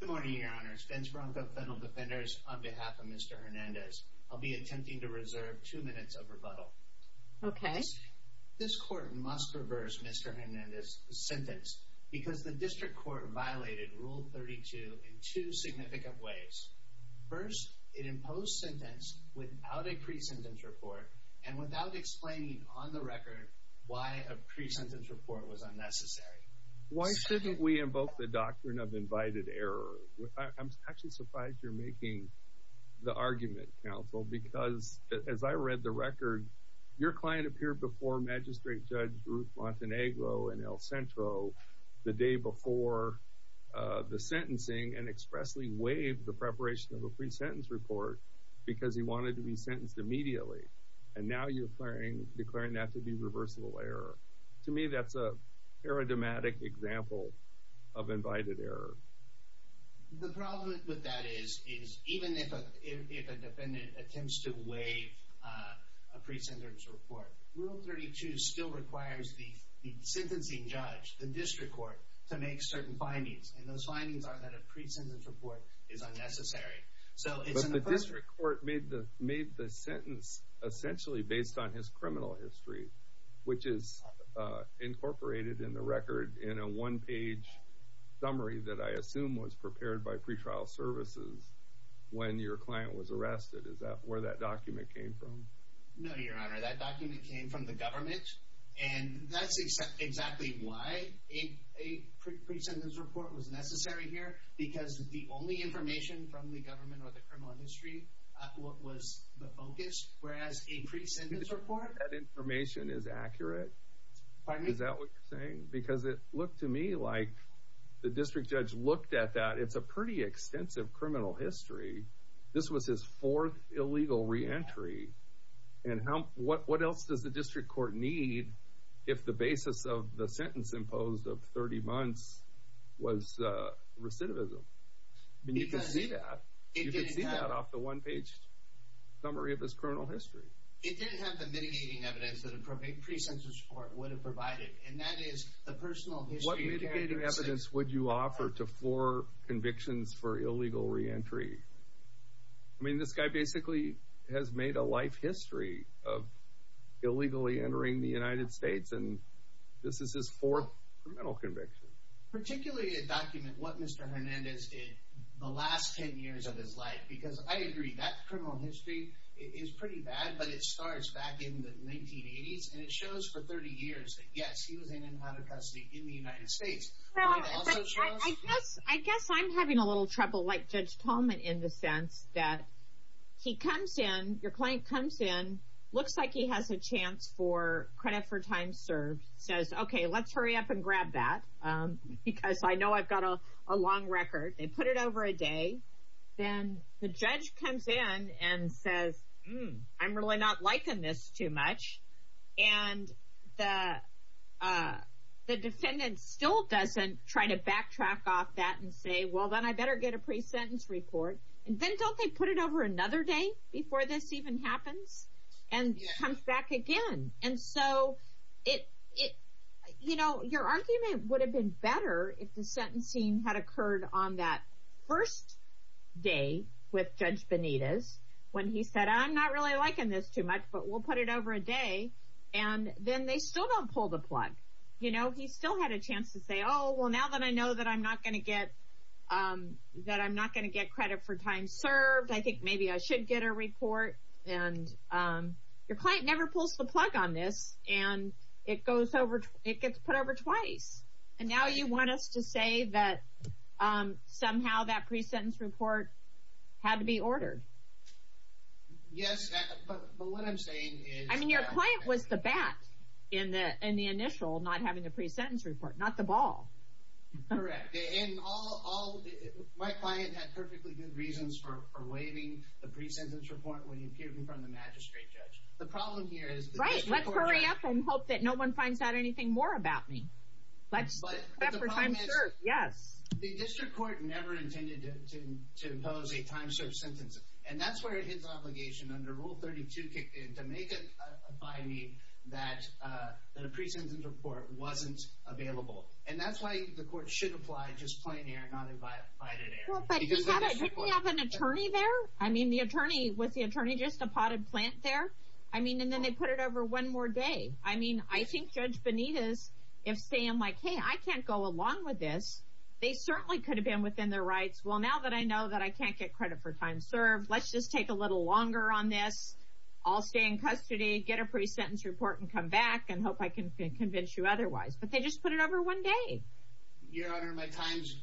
Good morning, Your Honors. Vince Bronco, Federal Defenders, on behalf of Mr. Hernandez, I'll be attempting to reserve two minutes of rebuttal. Okay. This Court must reverse Mr. Hernandez's sentence because the District Court violated Rule 32 in two significant ways. First, it imposed sentence without a pre-sentence report and without explaining on the record why a pre-sentence report was unnecessary. Why shouldn't we invoke the doctrine of invited error? I'm actually surprised you're making the argument, Counsel, because as I read the record, your client appeared before Magistrate Judge Ruth Montenegro in El Centro the day before the sentencing and expressly waived the preparation of a pre-sentence report because he wanted to be sentenced immediately. And now you're declaring that to be reversible error. To me, that's a paradigmatic example of invited error. The problem with that is even if a defendant attempts to waive a pre-sentence report, Rule 32 still requires the sentencing judge, the District Court, to make certain findings. And those findings are that a pre-sentence report is unnecessary. But the District Court made the sentence essentially based on his criminal history, which is incorporated in the record in a one-page summary that I assume was prepared by pretrial services when your client was arrested. Is that where that document came from? No, Your Honor. That document came from the government. And that's exactly why a pre-sentence report was necessary here, because the only information from the government or the criminal history was the focus, whereas a pre-sentence report— That information is accurate? Pardon me? Is that what you're saying? Because it looked to me like the District Judge looked at that. It's a pretty extensive criminal history. This was his fourth illegal reentry. And what else does the District Court need if the basis of the sentence imposed of 30 months was recidivism? I mean, you can see that. You can see that off the one-page summary of his criminal history. It didn't have the mitigating evidence that a pre-sentence report would have provided, and that is the personal history characteristics. What mitigating evidence would you offer to four convictions for illegal reentry? I mean, this guy basically has made a life history of illegally entering the United States, and this is his fourth criminal conviction. Particularly a document, what Mr. Hernandez did the last 10 years of his life, because I agree, that criminal history is pretty bad, but it starts back in the 1980s, and it shows for 30 years that, yes, he was in and out of custody in the United States. I guess I'm having a little trouble, like Judge Tallman, in the sense that he comes in, your client comes in, looks like he has a chance for credit for time served, says, okay, let's hurry up and grab that, because I know I've got a long record. They put it over a day. Then the judge comes in and says, hmm, I'm really not liking this too much, and the defendant still doesn't try to backtrack off that and say, well, then I better get a pre-sentence report. And then don't they put it over another day before this even happens and comes back again? And so, you know, your argument would have been better if the sentencing had occurred on that first day with Judge Benitez when he said, I'm not really liking this too much, but we'll put it over a day, and then they still don't pull the plug. You know, he still had a chance to say, oh, well, now that I know that I'm not going to get credit for time served, I think maybe I should get a report. And your client never pulls the plug on this, and it gets put over twice. And now you want us to say that somehow that pre-sentence report had to be ordered. Yes, but what I'm saying is that- I mean, your client was the bat in the initial not having a pre-sentence report, not the ball. Correct. And all, my client had perfectly good reasons for waiving the pre-sentence report when he appeared in front of the magistrate judge. The problem here is- Right, let's hurry up and hope that no one finds out anything more about me. But the problem is- Yes. The district court never intended to impose a time served sentence, and that's where his obligation under Rule 32 kicked in to make it by me that a pre-sentence report wasn't available. And that's why the court should apply just plain error, not invited error. Well, but didn't he have an attorney there? I mean, was the attorney just a potted plant there? I mean, and then they put it over one more day. I mean, I think Judge Benitez, if Sam, like, hey, I can't go along with this. They certainly could have been within their rights. Well, now that I know that I can't get credit for time served, let's just take a little longer on this. I'll stay in custody, get a pre-sentence report, and come back and hope I can convince you otherwise. But they just put it over one day. Your Honor, my time's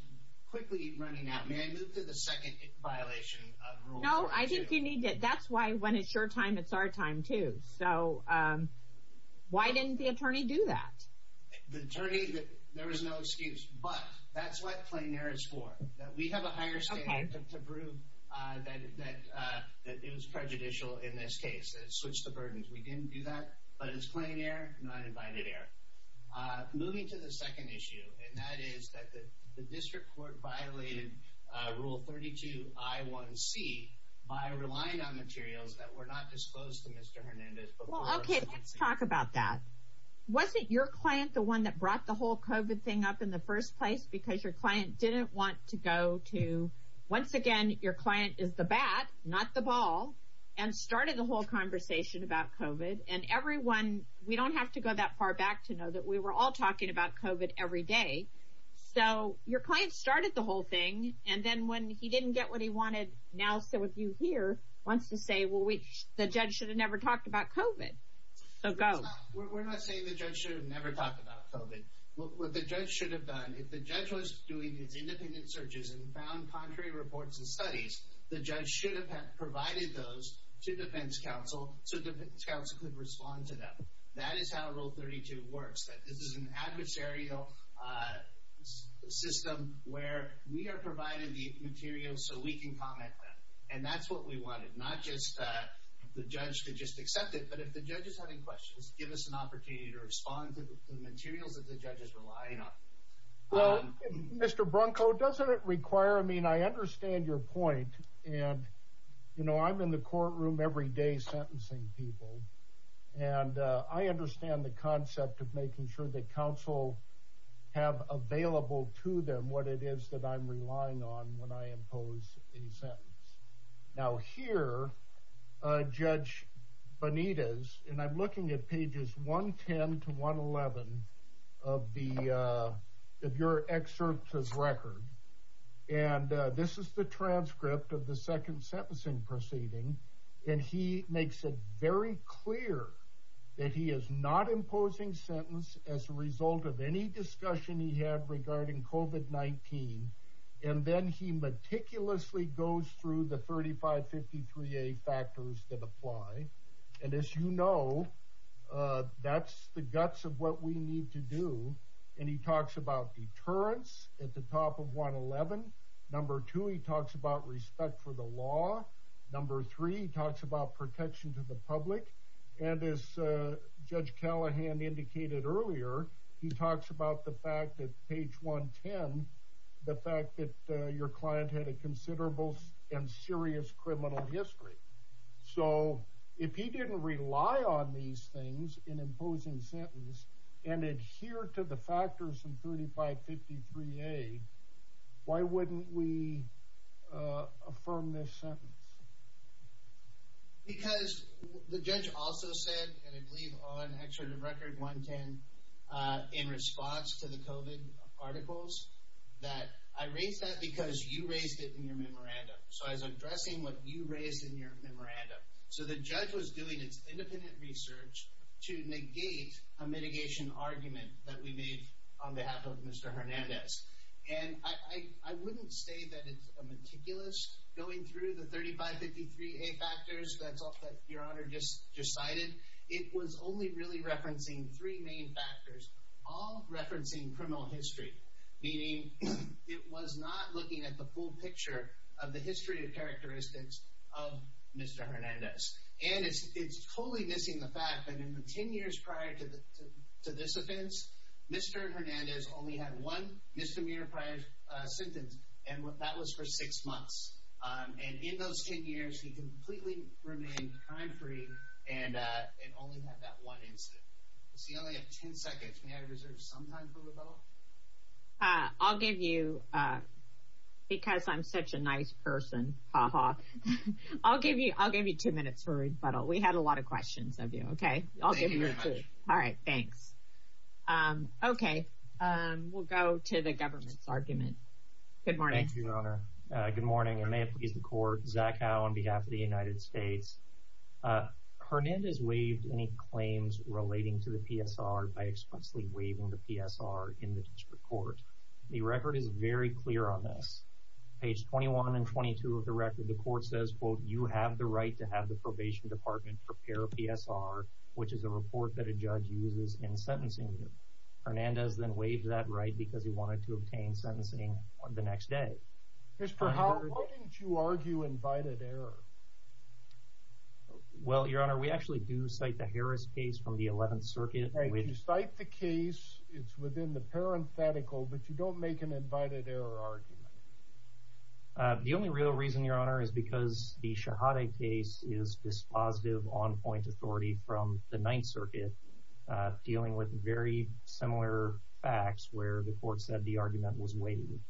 quickly running out. May I move to the second violation of Rule 42? No, I think you need to. That's why when it's your time, it's our time, too. So why didn't the attorney do that? The attorney, there was no excuse. But that's what plain error is for, that we have a higher standard to prove that it was prejudicial in this case, that it switched the burdens. We didn't do that. But it's plain error, not invited error. Moving to the second issue, and that is that the district court violated Rule 32I1C by relying on materials that were not disclosed to Mr. Hernandez. Okay, let's talk about that. Wasn't your client the one that brought the whole COVID thing up in the first place? Because your client didn't want to go to, once again, your client is the bat, not the ball, and started the whole conversation about COVID. And everyone, we don't have to go that far back to know that we were all talking about COVID every day. So your client started the whole thing, and then when he didn't get what he wanted, now some of you here wants to say, well, the judge should have never talked about COVID. So go. We're not saying the judge should have never talked about COVID. What the judge should have done, if the judge was doing these independent searches and found contrary reports and studies, the judge should have provided those to defense counsel so defense counsel could respond to them. That is how Rule 32 works. This is an adversarial system where we are providing the materials so we can comment on them. And that's what we wanted. Not just the judge to just accept it, but if the judge is having questions, give us an opportunity to respond to the materials that the judge is relying on. Well, Mr. Brunko, doesn't it require, I mean, I understand your point, and, you know, I'm in the courtroom every day sentencing people, and I understand the concept of making sure that counsel have available to them what it is that I'm relying on when I impose a sentence. Now here, Judge Benitez, and I'm looking at pages 110 to 111 of your excerpt's record, and this is the transcript of the second sentencing proceeding, and he makes it very clear that he is not imposing sentence as a result of any discussion he had regarding COVID-19. And then he meticulously goes through the 3553A factors that apply. And as you know, that's the guts of what we need to do. And he talks about deterrence at the top of 111. Number two, he talks about respect for the law. Number three, he talks about protection to the public. And as Judge Callahan indicated earlier, he talks about the fact that page 110, the fact that your client had a considerable and serious criminal history. So if he didn't rely on these things in imposing sentence and adhere to the factors in 3553A, why wouldn't we affirm this sentence? Because the judge also said, and I believe on Excerpt of Record 110, in response to the COVID articles, that I raised that because you raised it in your memorandum. So I was addressing what you raised in your memorandum. So the judge was doing its independent research to negate a mitigation argument that we made on behalf of Mr. Hernandez. And I wouldn't say that it's meticulous going through the 3553A factors. That's all that Your Honor just cited. It was only really referencing three main factors, all referencing criminal history, meaning it was not looking at the full picture of the history of characteristics of Mr. Hernandez. And it's totally missing the fact that in the ten years prior to this offense, Mr. Hernandez only had one misdemeanor prior sentence, and that was for six months. And in those ten years, he completely remained crime-free and only had that one incident. So you only have ten seconds. May I reserve some time for rebuttal? I'll give you, because I'm such a nice person, ha-ha. I'll give you two minutes for rebuttal. We had a lot of questions of you, okay? Thank you very much. All right, thanks. Okay, we'll go to the government's argument. Good morning. Thank you, Your Honor. Good morning, and may it please the Court. Zach Howe on behalf of the United States. Hernandez waived any claims relating to the PSR by explicitly waiving the PSR in the District Court. The record is very clear on this. Page 21 and 22 of the record, the Court says, quote, you have the right to have the Probation Department prepare a PSR, which is a report that a judge uses in sentencing you. Hernandez then waived that right because he wanted to obtain sentencing the next day. Mr. Howe, why didn't you argue invited error? Well, Your Honor, we actually do cite the Harris case from the 11th Circuit. You cite the case. It's within the parenthetical, but you don't make an invited error argument. The only real reason, Your Honor, is because the Shahada case is dispositive on-point authority from the 9th Circuit, dealing with very similar facts where the Court said the argument was waived.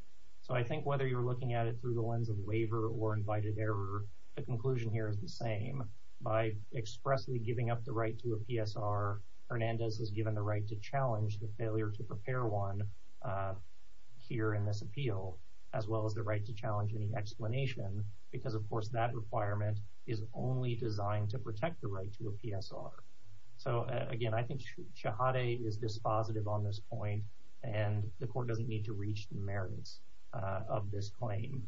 So I think whether you're looking at it through the lens of waiver or invited error, the conclusion here is the same. By expressly giving up the right to a PSR, Hernandez was given the right to challenge the failure to prepare one here in this appeal, as well as the right to challenge any explanation, because, of course, that requirement is only designed to protect the right to a PSR. So, again, I think Shahada is dispositive on this point, and the Court doesn't need to reach the merits of this claim.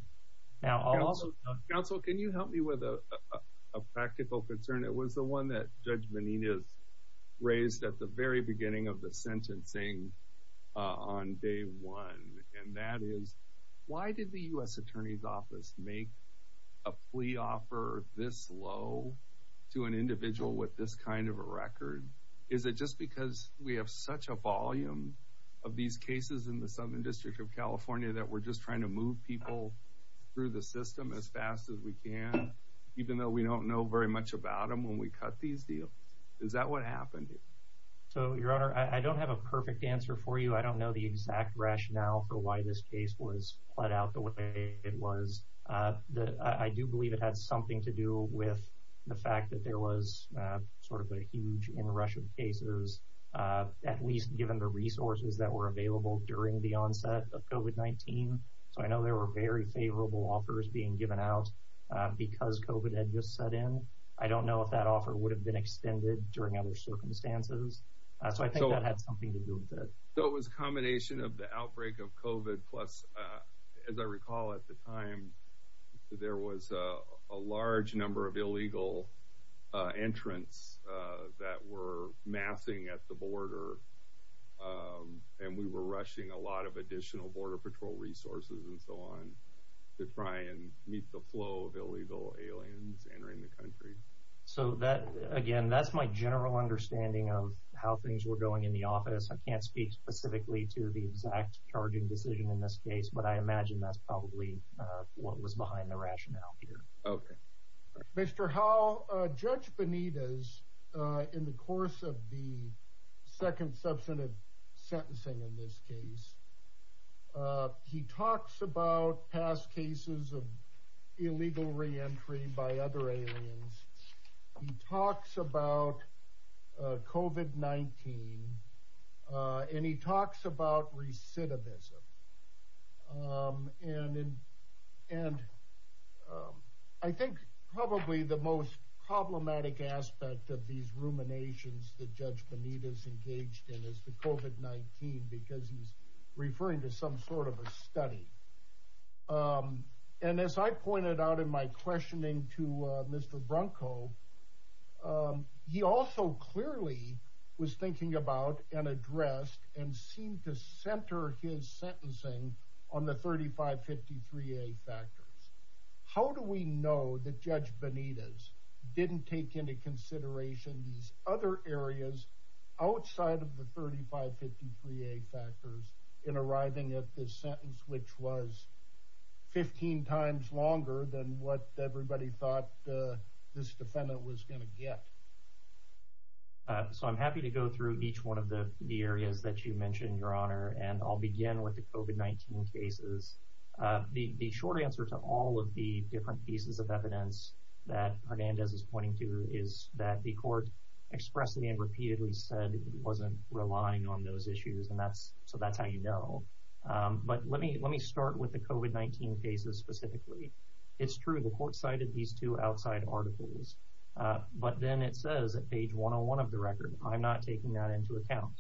Counsel, can you help me with a practical concern? It was the one that Judge Menendez raised at the very beginning of the sentencing on day one, and that is, why did the U.S. Attorney's Office make a plea offer this low to an individual with this kind of a record? Is it just because we have such a volume of these cases in the Southern District of California that we're just trying to move people through the system as fast as we can, even though we don't know very much about them when we cut these deals? Is that what happened? Your Honor, I don't have a perfect answer for you. I don't know the exact rationale for why this case was put out the way it was. I do believe it had something to do with the fact that there was sort of a huge inrush of cases, at least given the resources that were available during the onset of COVID-19. So I know there were very favorable offers being given out because COVID had just set in. I don't know if that offer would have been extended during other circumstances. So I think that had something to do with it. So it was a combination of the outbreak of COVID, plus, as I recall at the time, there was a large number of illegal entrants that were massing at the border, and we were rushing a lot of additional Border Patrol resources and so on to try and meet the flow of illegal aliens entering the country. So, again, that's my general understanding of how things were going in the office. I can't speak specifically to the exact charging decision in this case, but I imagine that's probably what was behind the rationale here. Okay. Mr. Howell, Judge Benitez, in the course of the second substantive sentencing in this case, he talks about past cases of illegal reentry by other aliens. He talks about COVID-19, and he talks about recidivism. And I think probably the most problematic aspect of these ruminations that Judge Benitez engaged in is the COVID-19 because he's referring to some sort of a study. And as I pointed out in my questioning to Mr. Brunko, he also clearly was thinking about and addressed and seemed to center his sentencing on the 3553A factors. How do we know that Judge Benitez didn't take into consideration these other areas outside of the 3553A factors in arriving at this sentence, which was 15 times longer than what everybody thought this defendant was going to get? So, I'm happy to go through each one of the areas that you mentioned, Your Honor, and I'll begin with the COVID-19 cases. The short answer to all of the different pieces of evidence that Hernandez is pointing to is that the court expressedly and repeatedly said it wasn't relying on those issues, and so that's how you know. But let me start with the COVID-19 cases specifically. It's true, the court cited these two outside articles, but then it says at page 101 of the record, I'm not taking that into account.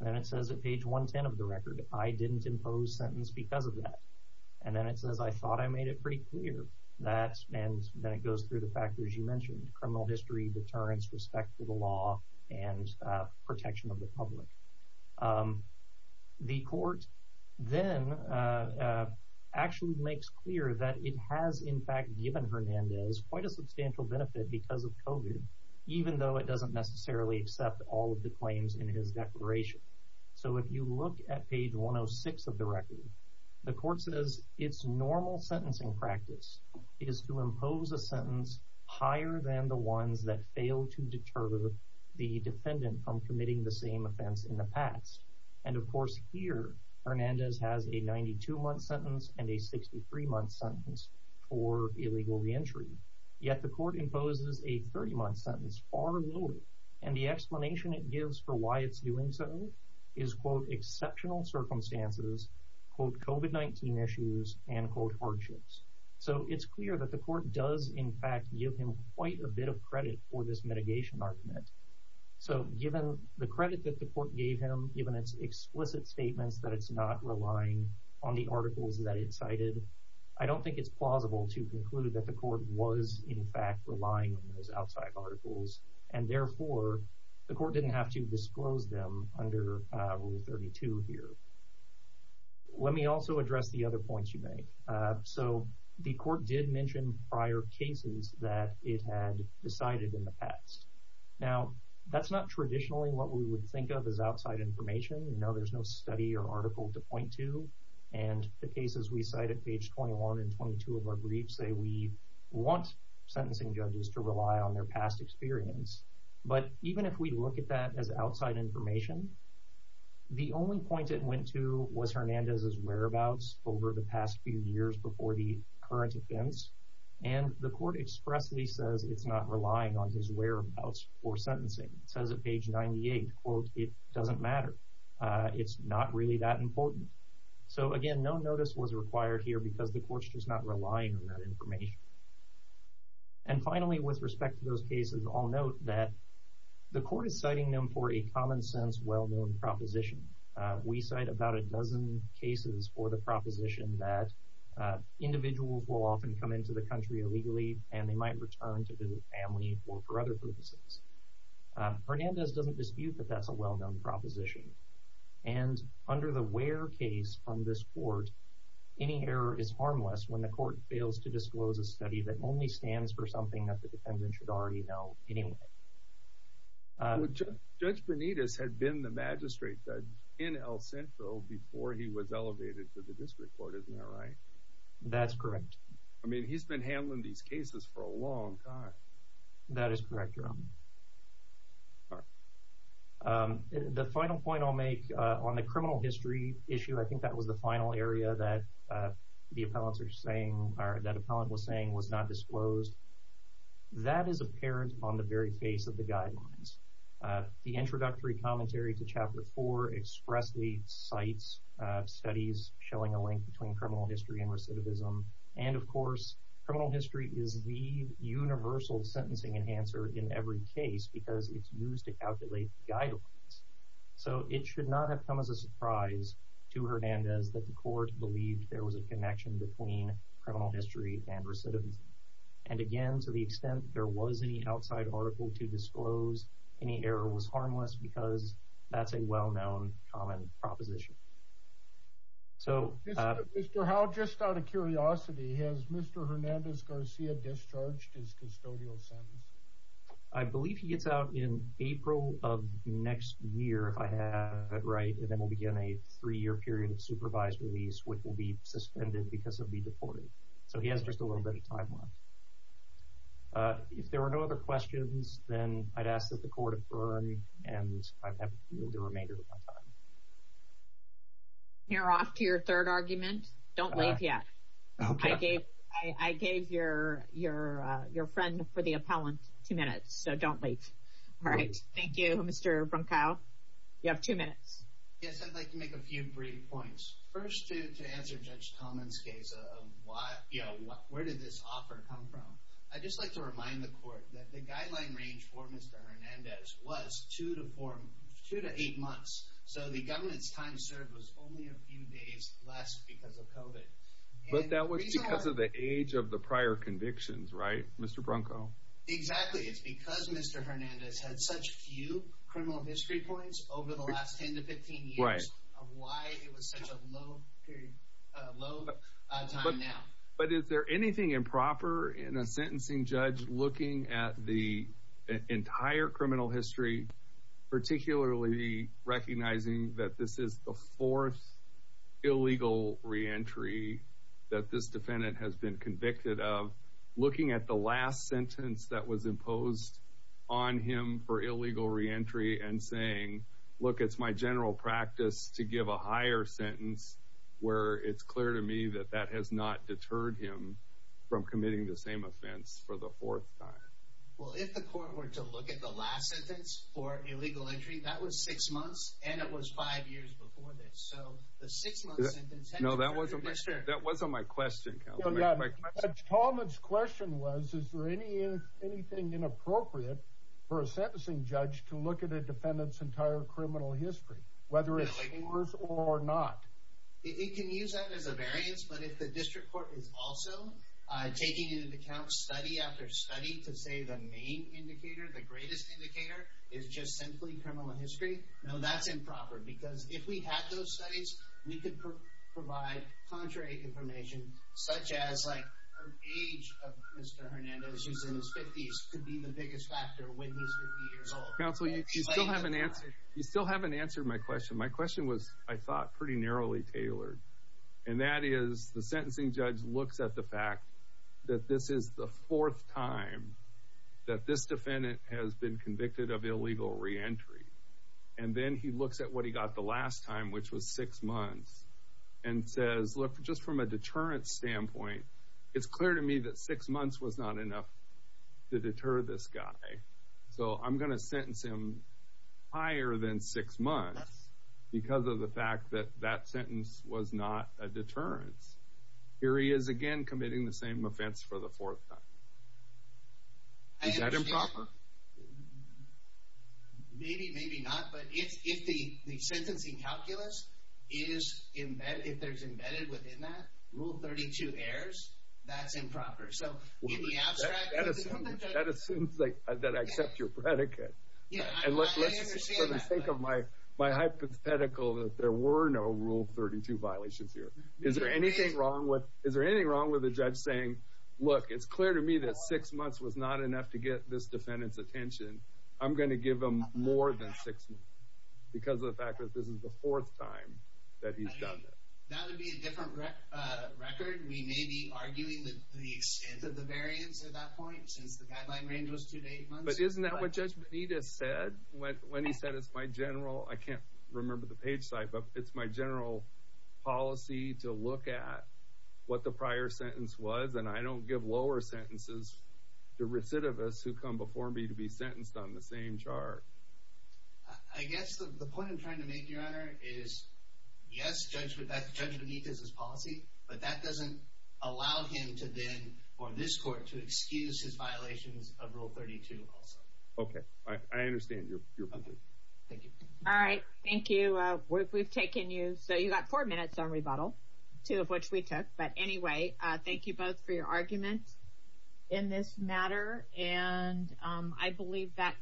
And then it says at page 110 of the record, I didn't impose sentence because of that. And then it says I thought I made it pretty clear. And then it goes through the factors you mentioned, criminal history, deterrence, respect for the law, and protection of the public. The court then actually makes clear that it has, in fact, given Hernandez quite a substantial benefit because of COVID, even though it doesn't necessarily accept all of the claims in his declaration. So, if you look at page 106 of the record, the court says, its normal sentencing practice is to impose a sentence higher than the ones that fail to deter the defendant from committing the same offense in the past. And, of course, here Hernandez has a 92-month sentence and a 63-month sentence for illegal reentry. Yet the court imposes a 30-month sentence far lower, and the explanation it gives for why it's doing so is, quote, exceptional circumstances, quote, COVID-19 issues, and, quote, hardships. So, it's clear that the court does, in fact, give him quite a bit of credit for this mitigation argument. So, given the credit that the court gave him, given its explicit statements that it's not relying on the articles that it cited, I don't think it's plausible to conclude that the court was, in fact, relying on those outside articles, and, therefore, the court didn't have to disclose them under Rule 32 here. Let me also address the other points you made. So, the court did mention prior cases that it had decided in the past. Now, that's not traditionally what we would think of as outside information. We know there's no study or article to point to, and the cases we cite at page 21 and 22 of our briefs say we want sentencing judges to rely on their past experience. But even if we look at that as outside information, the only point it went to was Hernandez's whereabouts over the past few years before the current offense, and the court expressly says it's not relying on his whereabouts for sentencing. It says at page 98, quote, it doesn't matter. It's not really that important. So, again, no notice was required here because the court's just not relying on that information. And finally, with respect to those cases, I'll note that the court is citing them for a common-sense, well-known proposition. We cite about a dozen cases for the proposition that individuals will often come into the country illegally and they might return to visit family or for other purposes. Hernandez doesn't dispute that that's a well-known proposition, and under the where case from this court, any error is harmless when the court fails to disclose a study that only stands for something that the defendant should already know anyway. Judge Benitez had been the magistrate judge in El Centro before he was elevated to the district court, isn't that right? That's correct. I mean, he's been handling these cases for a long time. That is correct, Your Honor. The final point I'll make on the criminal history issue, I think that was the final area that the appellant was saying was not disclosed. That is apparent on the very face of the guidelines. The introductory commentary to Chapter 4 expressly cites studies showing a link between criminal history and recidivism. And, of course, criminal history is the universal sentencing enhancer in every case because it's used to calculate guidelines. So it should not have come as a surprise to Hernandez that the court believed there was a connection between criminal history and recidivism. And again, to the extent there was any outside article to disclose, any error was harmless because that's a well-known common proposition. Mr. Howell, just out of curiosity, has Mr. Hernandez-Garcia discharged his custodial sentence? I believe he gets out in April of next year, if I have it right, and then will begin a three-year period of supervised release, which will be suspended because he'll be deported. So he has just a little bit of time left. If there are no other questions, then I'd ask that the court adjourn, and I have the remainder of my time. We're off to your third argument. Don't leave yet. I gave your friend for the appellant two minutes, so don't leave. All right. Thank you, Mr. Brunkow. You have two minutes. Yes, I'd like to make a few brief points. First, to answer Judge Coleman's case of where did this offer come from, I'd just like to remind the court that the guideline range for Mr. Hernandez was two to eight months. So the government's time served was only a few days less because of COVID. But that was because of the age of the prior convictions, right, Mr. Brunkow? Exactly. It's because Mr. Hernandez had such few criminal history points over the last 10 to 15 years of why it was such a low time now. But is there anything improper in a sentencing judge looking at the entire criminal history, particularly recognizing that this is the fourth illegal reentry that this defendant has been convicted of, looking at the last sentence that was imposed on him for illegal reentry and saying, look, it's my general practice to give a higher sentence where it's clear to me that that has not deterred him from committing the same offense for the fourth time? Well, if the court were to look at the last sentence for illegal entry, that was six months, and it was five years before this. So the six-month sentence— No, that wasn't my question. Judge Coleman's question was, is there anything inappropriate for a sentencing judge to look at a defendant's entire criminal history, whether it's yours or not? It can use that as a variance, but if the district court is also taking into account study after study to say the main indicator, the greatest indicator, is just simply criminal history, no, that's improper. Because if we had those studies, we could provide contrary information, such as, like, the age of Mr. Hernandez, who's in his 50s, could be the biggest factor when he's 50 years old. Counsel, you still haven't answered my question. My question was, I thought, pretty narrowly tailored. And that is, the sentencing judge looks at the fact that this is the fourth time that this defendant has been convicted of illegal reentry. And then he looks at what he got the last time, which was six months, and says, look, just from a deterrence standpoint, it's clear to me that six months was not enough to deter this guy. So I'm going to sentence him higher than six months because of the fact that that sentence was not a deterrence. Here he is again committing the same offense for the fourth time. Is that improper? Maybe, maybe not. But if the sentencing calculus is embedded, if there's embedded within that, Rule 32 errors, that's improper. So in the abstract... That assumes that I accept your predicate. Yeah, I understand that. And let's just sort of think of my hypothetical, that there were no Rule 32 violations here. Is there anything wrong with a judge saying, look, it's clear to me that six months was not enough to get this defendant's attention. I'm going to give him more than six months because of the fact that this is the fourth time that he's done it. That would be a different record. We may be arguing the extent of the variance at that point since the guideline range was two to eight months. But isn't that what Judge Benitez said when he said it's my general, I can't remember the page type, but it's my general policy to look at what the prior sentence was, and I don't give lower sentences to recidivists who come before me to be sentenced on the same chart. I guess the point I'm trying to make, Your Honor, is yes, Judge Benitez's policy, but that doesn't allow him to then, or this court, to excuse his violations of Rule 32 also. Okay. I understand your point. Okay. Thank you. All right. Thank you. We've taken you, so you've got four minutes on rebuttal, two of which we took. But anyway, thank you both for your arguments in this matter. And I believe that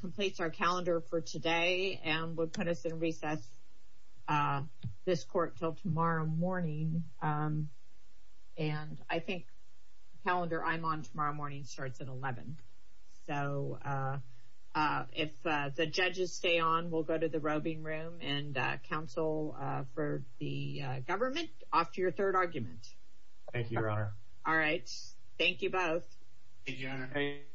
completes our calendar for today and will put us in recess, this court, until tomorrow morning. And I think the calendar I'm on tomorrow morning starts at 11. So if the judges stay on, we'll go to the roving room and counsel for the government off to your third argument. Thank you, Your Honor. Thank you, Your Honor.